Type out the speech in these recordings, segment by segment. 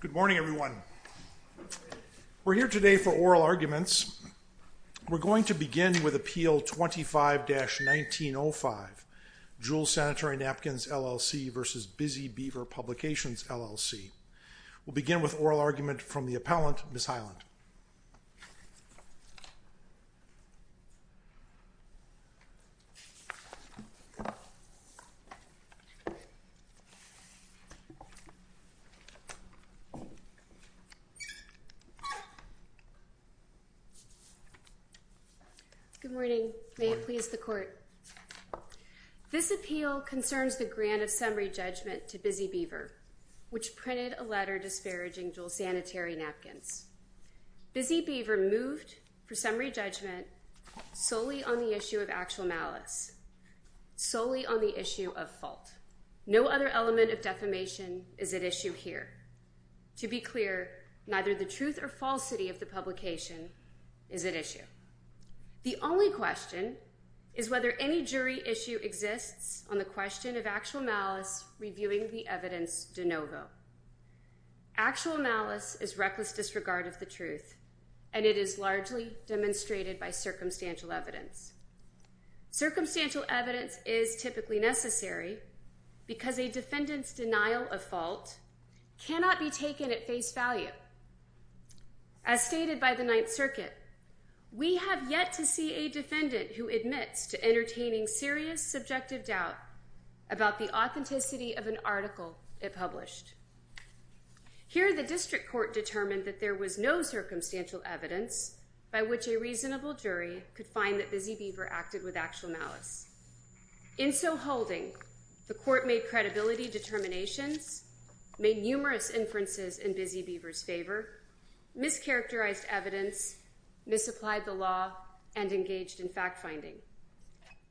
Good morning, everyone. We're here today for oral arguments. We're going to begin with Appeal 25-1905, Jewel Sanitary Napkins, LLC v. Busy Beaver Publications, LLC. We'll begin with oral argument from the appellant, Ms. Highland. Good morning. May it please the Court. This appeal concerns the grant of summary judgment to Busy Beaver, which printed a letter disparaging Jewel Sanitary Napkins. Busy Beaver moved for summary judgment solely on the issue of actual malice, solely on the issue of fault. First, no other element of defamation is at issue here. To be clear, neither the truth or falsity of the publication is at issue. The only question is whether any jury issue exists on the question of actual malice reviewing the evidence de novo. Actual malice is reckless disregard of the truth, and it is largely demonstrated by circumstantial evidence. Circumstantial evidence is typically necessary because a defendant's denial of fault cannot be taken at face value. As stated by the Ninth Circuit, we have yet to see a defendant who admits to entertaining serious subjective doubt about the authenticity of an article it published. Here, the district court determined that there was no circumstantial evidence by which a reasonable jury could find that Busy Beaver acted with actual malice. In so holding, the court made credibility determinations, made numerous inferences in Busy Beaver's favor, mischaracterized evidence, misapplied the law, and engaged in fact-finding.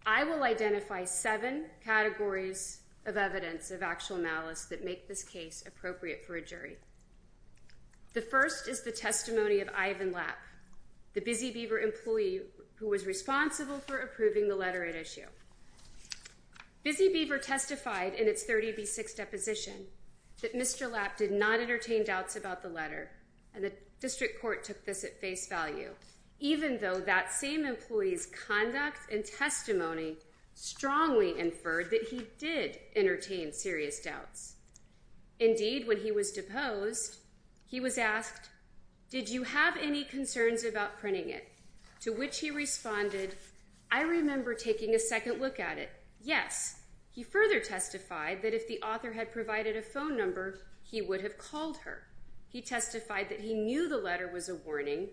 I will identify seven categories of evidence of actual malice that make this case appropriate for a jury. The first is the testimony of Ivan Lapp, the Busy Beaver employee who was responsible for approving the letter at issue. Busy Beaver testified in its 30B6 deposition that Mr. Lapp did not entertain doubts about the letter, and the district court took this at face value, even though that same employee's conduct and testimony strongly inferred that he did entertain serious doubts. Indeed, when he was deposed, he was asked, did you have any concerns about printing it? To which he responded, I remember taking a second look at it, yes. He further testified that if the author had provided a phone number, he would have called her. He testified that he knew the letter was a warning,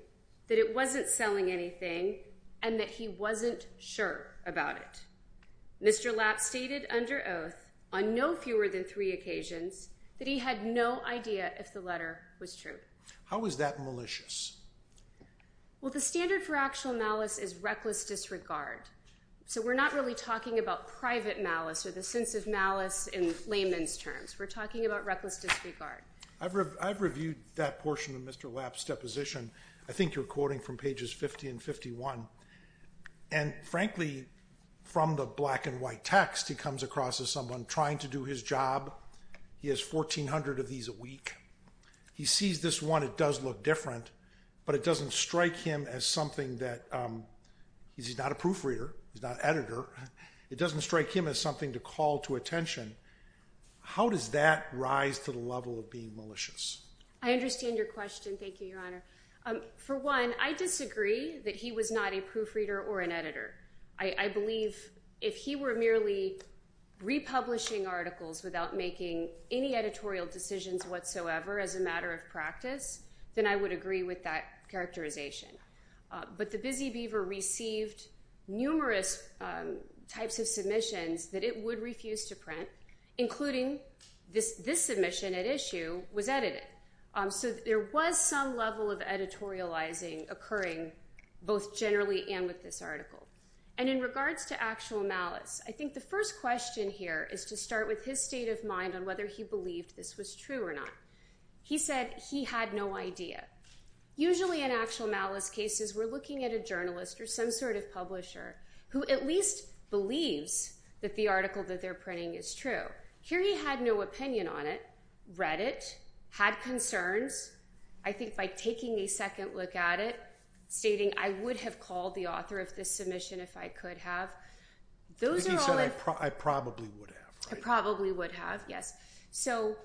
that it wasn't selling anything, and that he wasn't sure about it. Mr. Lapp stated under oath, on no fewer than three occasions, that he had no idea if the letter was true. How is that malicious? Well, the standard for actual malice is reckless disregard. So we're not really talking about private malice or the sense of malice in layman's terms. We're talking about reckless disregard. I've reviewed that portion of Mr. Lapp's deposition. I think you're quoting from pages 50 and 51. And frankly, from the black and white text, he comes across as someone trying to do his job. He has 1,400 of these a week. He sees this one, it does look different, but it doesn't strike him as something that he's not a proofreader, he's not an editor. It doesn't strike him as something to call to attention. How does that rise to the level of being malicious? I understand your question. Thank you, Your Honor. For one, I disagree that he was not a proofreader or an editor. I believe if he were merely republishing articles without making any editorial decisions whatsoever as a matter of practice, then I would agree with that characterization. But the Busy Beaver received numerous types of submissions that it would refuse to print, including this submission at issue was edited. So there was some level of editorializing occurring, both generally and with this article. And in regards to actual malice, I think the first question here is to start with his state of mind on whether he believed this was true or not. He said he had no idea. Usually in actual malice cases, we're looking at a journalist or some sort of publisher who at least believes that the article that they're printing is true. Here he had no opinion on it, read it, had concerns. I think by taking a second look at it, stating I would have called the author of this submission if I could have. He said I probably would have. I probably would have, yes. So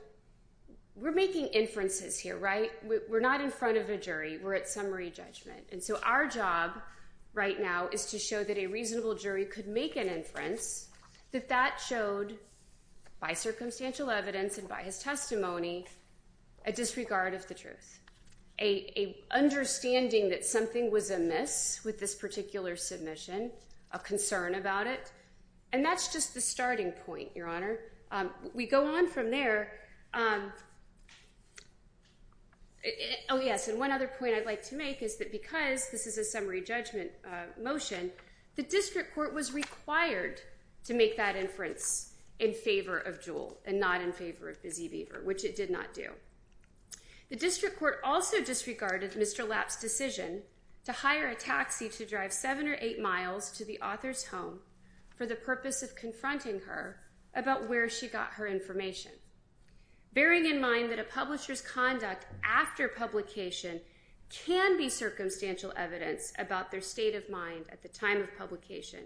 we're making inferences here, right? We're not in front of a jury. We're at summary judgment. And so our job right now is to show that a reasonable jury could make an inference that that showed by circumstantial evidence and by his testimony a disregard of the truth, an understanding that something was amiss with this particular submission, a concern about it. And that's just the starting point, Your Honor. We go on from there. Oh, yes, and one other point I'd like to make is that because this is a summary judgment motion, the district court was required to make that inference in favor of Jewel and not in favor of Busy Beaver, which it did not do. The district court also disregarded Mr. Lapp's decision to hire a taxi to drive seven or eight miles to the author's home for the purpose of confronting her about where she got her information, bearing in mind that a publisher's conduct after publication can be circumstantial evidence about their state of mind at the time of publication.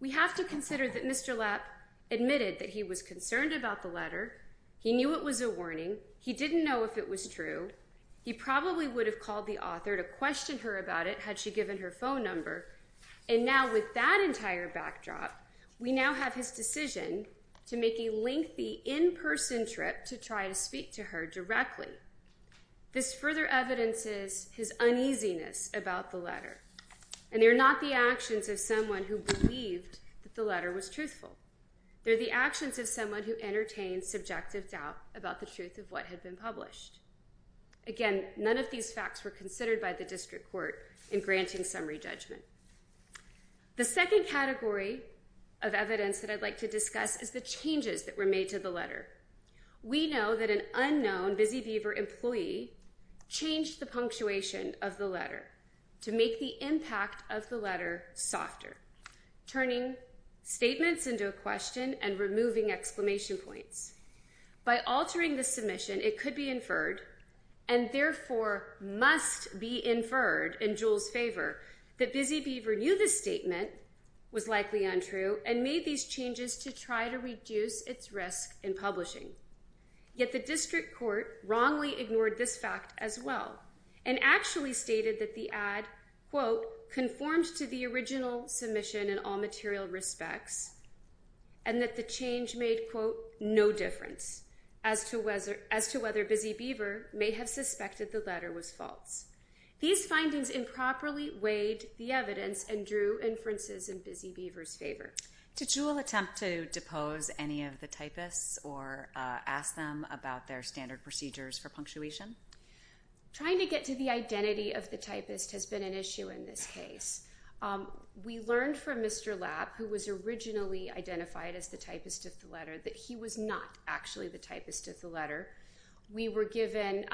We have to consider that Mr. Lapp admitted that he was concerned about the letter. He knew it was a warning. He didn't know if it was true. He probably would have called the author to question her about it had she given her phone number. And now with that entire backdrop, we now have his decision to make a lengthy in-person trip to try to speak to her directly. This further evidences his uneasiness about the letter, and they're not the actions of someone who believed that the letter was truthful. They're the actions of someone who entertained subjective doubt about the truth of what had been published. Again, none of these facts were considered by the district court in granting summary judgment. The second category of evidence that I'd like to discuss is the changes that were made to the letter. We know that an unknown Busy Beaver employee changed the punctuation of the letter to make the impact of the letter softer, turning statements into a question and removing exclamation points. By altering the submission, it could be inferred, and therefore must be inferred, in Jewel's favor, that Busy Beaver knew the statement was likely untrue and made these changes to try to reduce its risk in publishing. Yet the district court wrongly ignored this fact as well and actually stated that the ad, quote, conformed to the original submission in all material respects and that the change made, quote, no difference as to whether Busy Beaver may have suspected the letter was false. These findings improperly weighed the evidence and drew inferences in Busy Beaver's favor. Did Jewel attempt to depose any of the typists or ask them about their standard procedures for punctuation? Trying to get to the identity of the typist has been an issue in this case. We learned from Mr. Lab, who was originally identified as the typist of the letter, that he was not actually the typist of the letter. We were given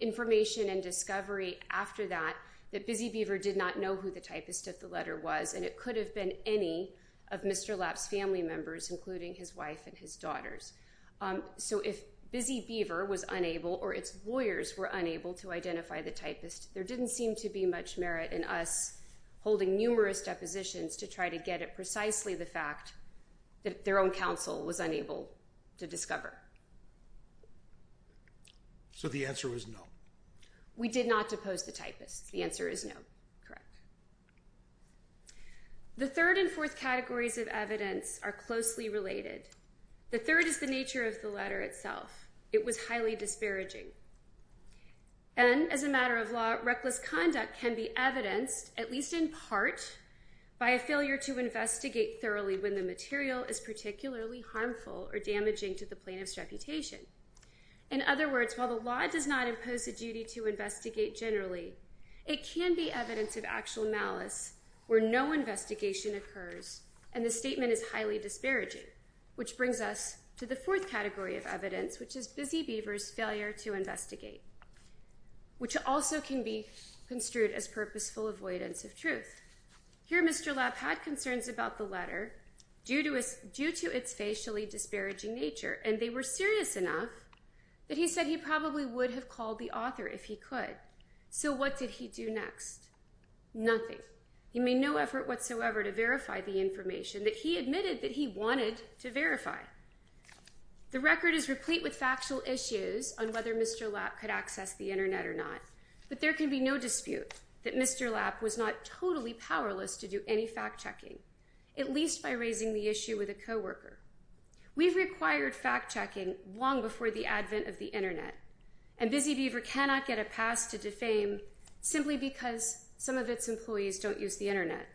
information and discovery after that that Busy Beaver did not know who the typist of the letter was and it could have been any of Mr. Lab's family members, including his wife and his daughters. So if Busy Beaver was unable or its lawyers were unable to identify the typist, there didn't seem to be much merit in us holding numerous depositions to try to get at precisely the fact that their own counsel was unable to discover. So the answer was no? We did not depose the typist. The answer is no. Correct. The third and fourth categories of evidence are closely related. The third is the nature of the letter itself. It was highly disparaging. And, as a matter of law, reckless conduct can be evidenced, at least in part, by a failure to investigate thoroughly when the material is particularly harmful or damaging to the plaintiff's reputation. In other words, while the law does not impose a duty to investigate generally, it can be evidence of actual malice where no investigation occurs, and the statement is highly disparaging, which brings us to the fourth category of evidence, which is Busy Beaver's failure to investigate, which also can be construed as purposeful avoidance of truth. Here Mr. Lab had concerns about the letter due to its facially disparaging nature, and they were serious enough that he said he probably would have called the author if he could. So what did he do next? Nothing. He made no effort whatsoever to verify the information that he admitted that he wanted to verify. The record is replete with factual issues on whether Mr. Lab could access the Internet or not, but there can be no dispute that Mr. Lab was not totally powerless to do any fact-checking, at least by raising the issue with a co-worker. We've required fact-checking long before the advent of the Internet, and Busy Beaver cannot get a pass to defame simply because some of its employees don't use the Internet.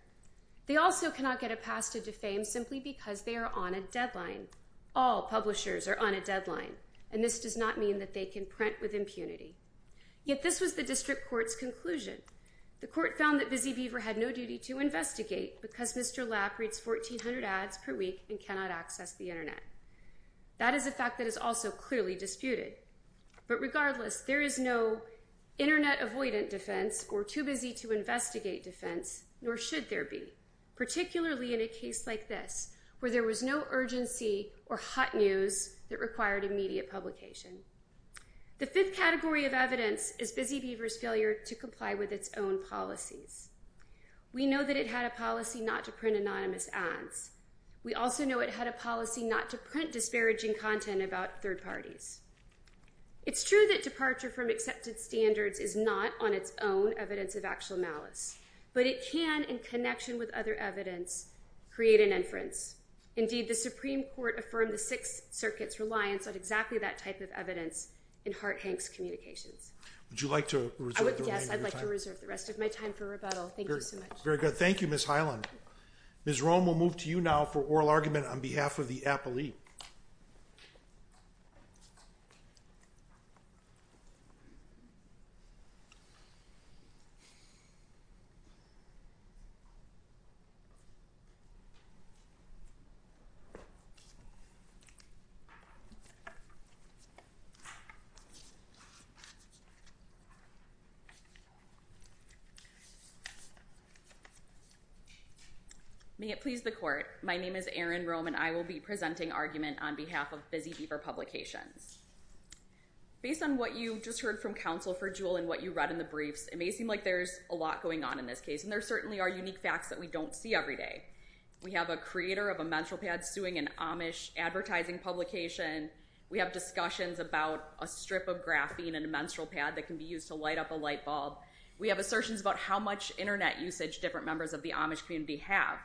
They also cannot get a pass to defame simply because they are on a deadline. All publishers are on a deadline, and this does not mean that they can print with impunity. Yet this was the district court's conclusion. The court found that Busy Beaver had no duty to investigate because Mr. Lab reads 1,400 ads per week and cannot access the Internet. That is a fact that is also clearly disputed. But regardless, there is no Internet-avoidant defense or too-busy-to-investigate defense, nor should there be, particularly in a case like this, where there was no urgency or hot news that required immediate publication. The fifth category of evidence is Busy Beaver's failure to comply with its own policies. We know that it had a policy not to print anonymous ads. We also know it had a policy not to print disparaging content about third parties. It's true that departure from accepted standards is not, on its own, evidence of actual malice, but it can, in connection with other evidence, create an inference. Indeed, the Supreme Court affirmed the Sixth Circuit's reliance on exactly that type of evidence in Hart-Hanks Communications. Would you like to reserve... Yes, I'd like to reserve the rest of my time for rebuttal. Thank you so much. Very good. Thank you, Ms. Hyland. Ms. Rome, we'll move to you now for oral argument on behalf of the appellee. May it please the Court, my name is Erin Rome, and I will be presenting argument on behalf of Busy Beaver Publications. Based on what you just heard from Counsel for Jewell and what you read in the briefs, it may seem like there's a lot going on in this case, and there certainly are unique facts that we don't see every day. We have a creator of a menstrual pad suing an Amish advertising publication. We have discussions about a strip of graphene in a menstrual pad that can be used to light up a light bulb We have assertions about how much Internet usage different members of the Amish community have.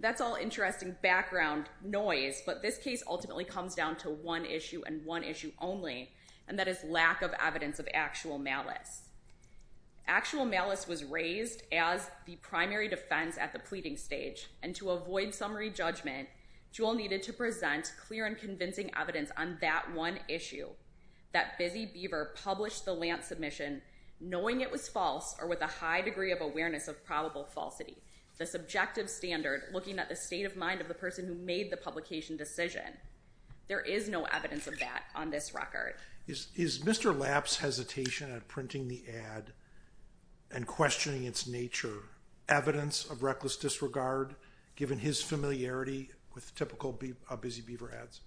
That's all interesting background noise, but this case ultimately comes down to one issue and one issue only, and that is lack of evidence of actual malice. Actual malice was raised as the primary defense at the pleading stage, and to avoid summary judgment, Jewell needed to present clear and convincing evidence on that one issue, that Busy Beaver published the Lantz submission knowing it was false or with a high degree of awareness of probable falsity. The subjective standard, looking at the state of mind of the person who made the publication decision. There is no evidence of that on this record. Is Mr. Lapp's hesitation at printing the ad and questioning its nature evidence of reckless disregard given his familiarity with typical Busy Beaver ads?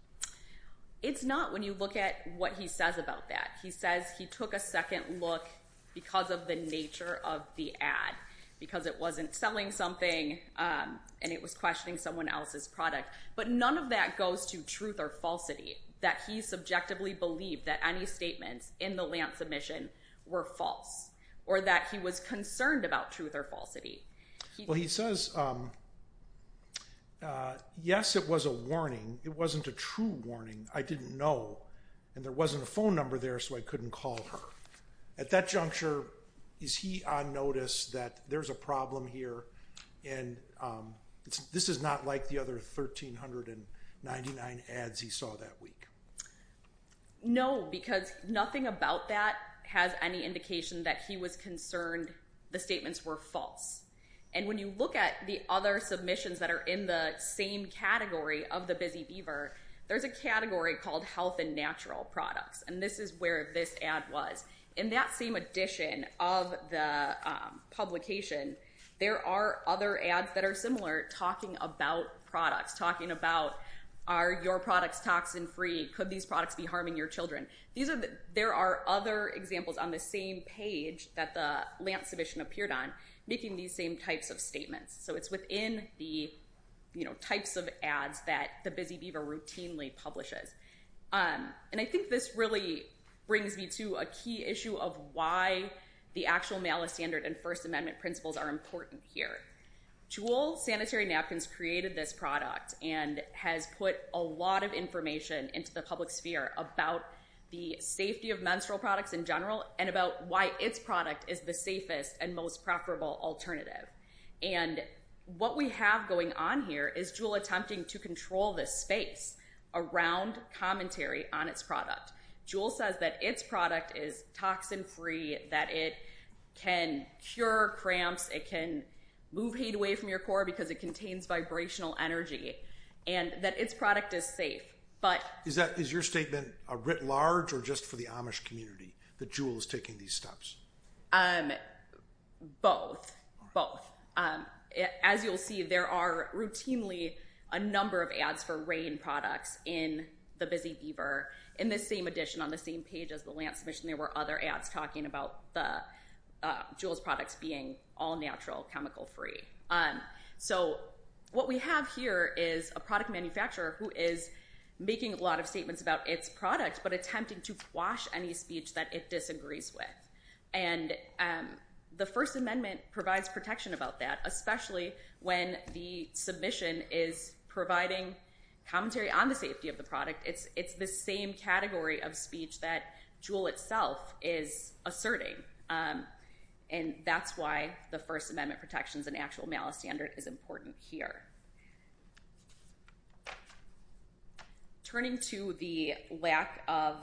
It's not when you look at what he says about that. He says he took a second look because of the nature of the ad, because it wasn't selling something and it was questioning someone else's product, but none of that goes to truth or falsity, that he subjectively believed that any statements in the Lantz submission were false or that he was concerned about truth or falsity. Well, he says, yes, it was a warning. It wasn't a true warning. I didn't know, and there wasn't a phone number there, so I couldn't call her. At that juncture, is he on notice that there's a problem here and this is not like the other 1,399 ads he saw that week? No, because nothing about that has any indication that he was concerned the statements were false. And when you look at the other submissions that are in the same category of the Busy Beaver, there's a category called Health and Natural Products, and this is where this ad was. In that same edition of the publication, there are other ads that are similar talking about products, talking about are your products toxin-free? Could these products be harming your children? There are other examples on the same page that the Lantz submission appeared on making these same types of statements. So it's within the types of ads that the Busy Beaver routinely publishes. And I think this really brings me to a key issue of why the actual malice standard and First Amendment principles are important here. Juul Sanitary Napkins created this product and has put a lot of information into the public sphere about the safety of menstrual products in general and about why its product is the safest and most preferable alternative. And what we have going on here is Juul attempting to control this space around commentary on its product. Juul says that its product is toxin-free, that it can cure cramps, it can move heat away from your core because it contains vibrational energy, and that its product is safe, but... Is your statement writ large or just for the Amish community that Juul is taking these steps? Both, both. As you'll see, there are routinely a number of ads for RAINN products in the Busy Beaver. In this same edition, on the same page as the Lantz submission, there were other ads talking about Juul's products being all-natural, chemical-free. So what we have here is a product manufacturer who is making a lot of statements about its product but attempting to quash any speech that it disagrees with. And the First Amendment provides protection about that, especially when the submission is providing commentary on the safety of the product. It's the same category of speech that Juul itself is asserting. And that's why the First Amendment protections and actual malice standard is important here. Turning to the lack of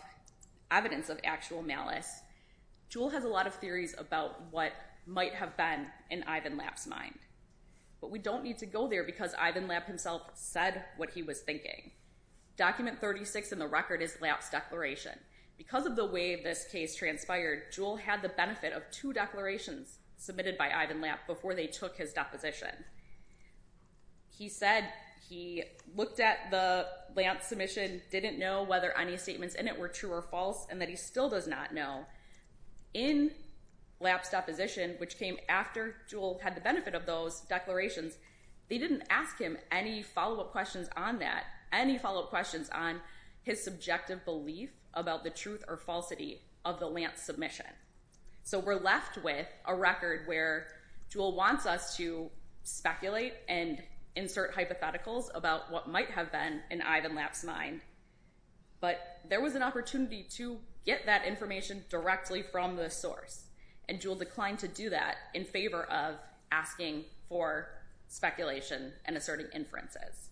evidence of actual malice, Juul has a lot of theories about what might have been in Ivan Lap's mind. But we don't need to go there because Ivan Lap himself said what he was thinking. Document 36 in the record is Lap's declaration. Because of the way this case transpired, Juul had the benefit of two declarations submitted by Ivan Lap before they took his deposition. He said he looked at the Lantz submission, didn't know whether any statements in it were true or false, and that he still does not know. In Lap's deposition, which came after Juul had the benefit of those declarations, they didn't ask him any follow-up questions on that, any follow-up questions on his subjective belief about the truth or falsity of the Lantz submission. So we're left with a record where Juul wants us to speculate and insert hypotheticals about what might have been in Ivan Lap's mind. But there was an opportunity to get that information directly from the source, and Juul declined to do that in favor of asking for speculation and asserting inferences.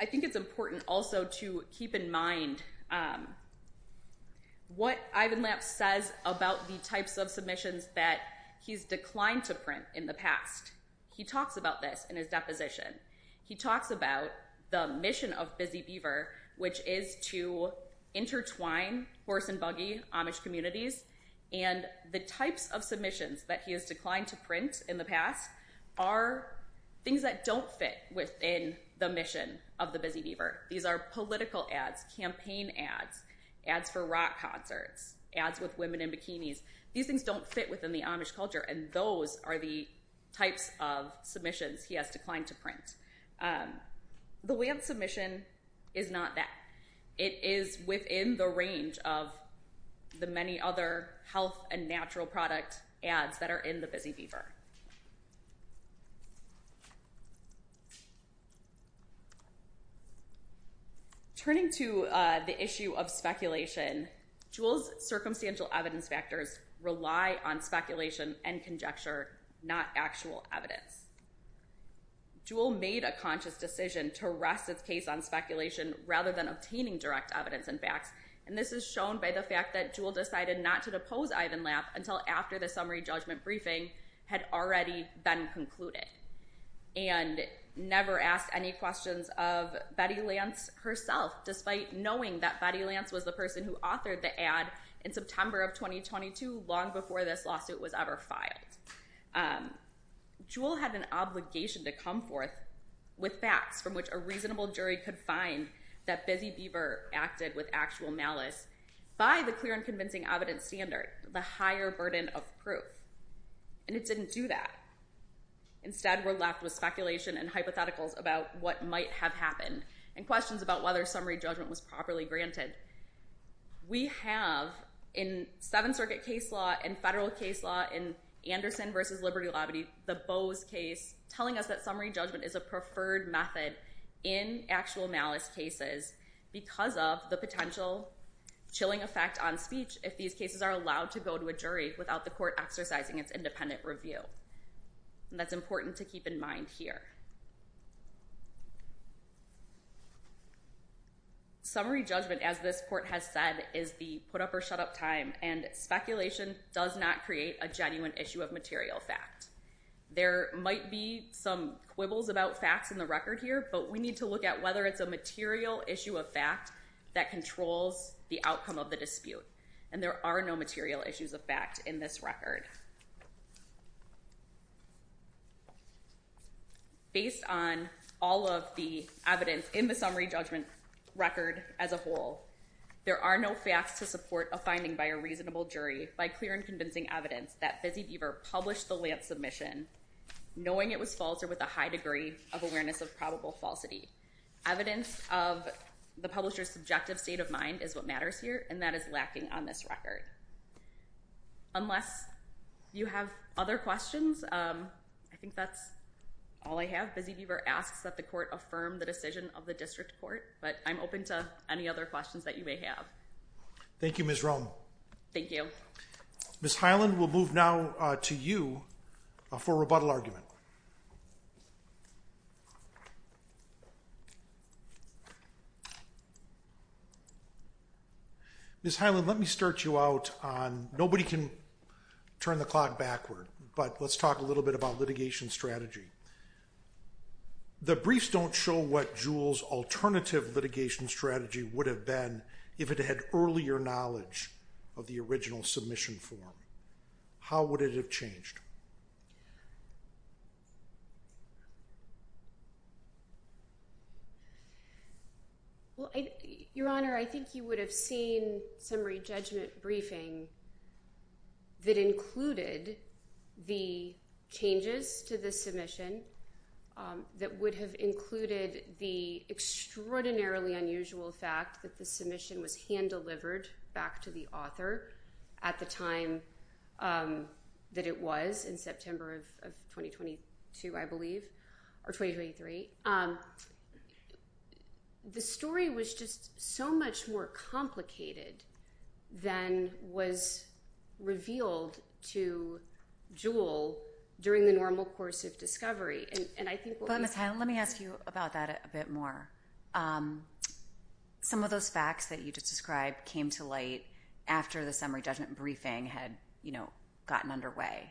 I think it's important also to keep in mind what Ivan Lap says about the types of submissions that he's declined to print in the past. He talks about this in his deposition. He talks about the mission of Busy Beaver, which is to intertwine horse and buggy Amish communities, and the types of submissions that he has declined to print in the past are things that don't fit within the mission of the Busy Beaver. These are political ads, campaign ads, ads for rock concerts, ads with women in bikinis. These things don't fit within the Amish culture, and those are the types of submissions he has declined to print. The way of submission is not that. It is within the range of the many other health and natural product ads that are in the Busy Beaver. Turning to the issue of speculation, Juul's circumstantial evidence factors rely on speculation and conjecture, not actual evidence. Juul made a conscious decision to rest its case on speculation rather than obtaining direct evidence and facts, and this is shown by the fact that Juul decided not to depose Ivan Lap until after the summary judgment briefing had already been concluded and never asked any questions of Betty Lance herself, despite knowing that Betty Lance was the person who authored the ad in September of 2022, long before this lawsuit was ever filed. Juul had an obligation to come forth with facts from which a reasonable jury could find that Busy Beaver acted with actual malice by the clear and convincing evidence standard, the higher burden of proof, and it didn't do that. Instead, we're left with speculation and hypotheticals about what might have happened and questions about whether summary judgment was properly granted. We have, in Seventh Circuit case law, in federal case law, in Anderson v. Liberty Labadee, the Bose case, telling us that summary judgment is a preferred method in actual malice cases because of the potential chilling effect on speech if these cases are allowed to go to a jury without the court exercising its independent review. And that's important to keep in mind here. Summary judgment, as this court has said, is the put-up-or-shut-up time, and speculation does not create a genuine issue of material fact. There might be some quibbles about facts in the record here, but we need to look at whether it's a material issue of fact that controls the outcome of the dispute, and there are no material issues of fact in this record. Based on all of the evidence in the summary judgment record as a whole, there are no facts to support a finding by a reasonable jury by clear and convincing evidence that Fizzy Beaver published the Lantz submission knowing it was false or with a high degree of awareness of probable falsity. Evidence of the publisher's subjective state of mind is what matters here, and that is lacking on this record. Unless you have other questions, I think that's all I have. Fizzy Beaver asks that the court affirm the decision of the district court, but I'm open to any other questions that you may have. Thank you, Ms. Rommel. Thank you. Ms. Hyland, we'll move now to you for rebuttal argument. Ms. Hyland, let me start you out on... Nobody can turn the clock backward, but let's talk a little bit about litigation strategy. The briefs don't show what Juul's alternative litigation strategy would have been if it had earlier knowledge of the original submission form. How would it have changed? Well, Your Honor, I think you would have seen some re-judgment briefing that included the changes to the submission that would have included the extraordinarily unusual fact that the submission was hand-delivered back to the author at the time that it was, in September of 2022, I believe, or 2023. The story was just so much more complicated than was revealed to Juul during the normal course of discovery, and I think... But, Ms. Hyland, let me ask you about that a bit more. Some of those facts that you just described came to light after the summary judgment briefing had gotten underway,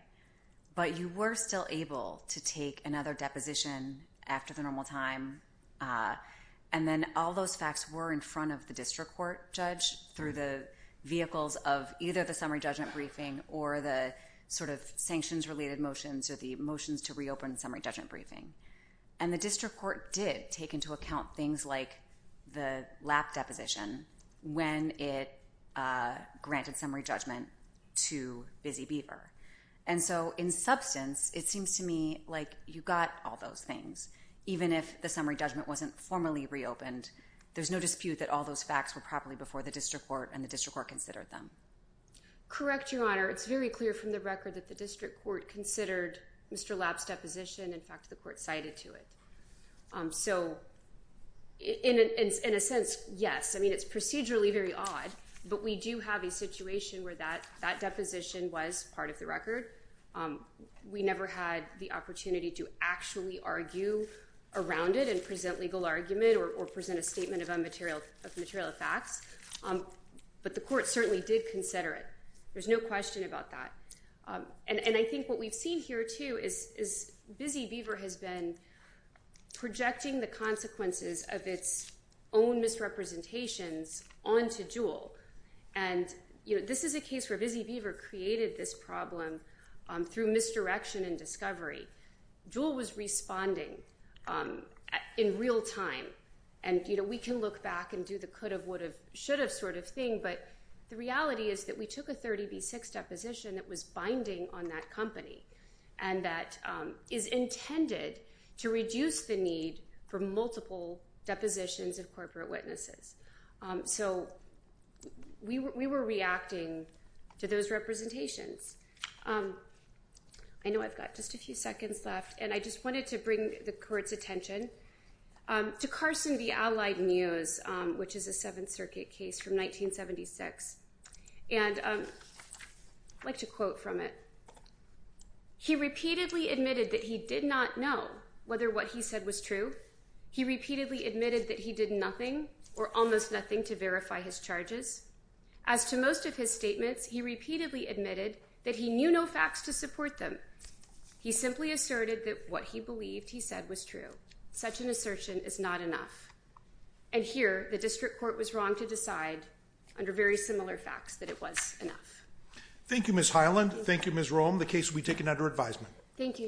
but you were still able to take another deposition after the normal time, and then all those facts were in front of the district court judge through the vehicles of either the summary judgment briefing or the sort of sanctions-related motions or the motions to reopen the summary judgment briefing. And the district court did take into account things like the lap deposition when it granted summary judgment to Busy Beaver. And so, in substance, it seems to me like you got all those things. Even if the summary judgment wasn't formally reopened, there's no dispute that all those facts were properly before the district court and the district court considered them. Correct, Your Honor. It's very clear from the record that the district court considered Mr. Lapp's deposition. In fact, the court cited to it. So, in a sense, yes. I mean, it's procedurally very odd, but we do have a situation where that deposition was part of the record. We never had the opportunity to actually argue around it and present legal argument or present a statement of material facts, but the court certainly did consider it. There's no question about that. And I think what we've seen here, too, is Busy Beaver has been projecting the consequences of its own misrepresentations onto Jewell. And, you know, this is a case where Busy Beaver created this problem through misdirection and discovery. Jewell was responding in real time. And, you know, we can look back and do the could have, would have, should have sort of thing, but the reality is that we took a 30B6 deposition that was binding on that company and that is intended to reduce the need for multiple depositions of corporate witnesses. So we were reacting to those representations. I know I've got just a few seconds left, and I just wanted to bring the court's attention to Carson v. Allied Muse, which is a Seventh Circuit case from 1976. And I'd like to quote from it. He repeatedly admitted that he did not know whether what he said was true. He repeatedly admitted that he did nothing or almost nothing to verify his charges. As to most of his statements, he repeatedly admitted that he knew no facts to support them. He simply asserted that what he believed he said was true. Such an assertion is not enough. And here, the district court was wrong to decide under very similar facts that it was enough. Thank you, Ms. Hyland. Thank you, Ms. Roem. The case will be taken under advisement. Thank you, Your Honor.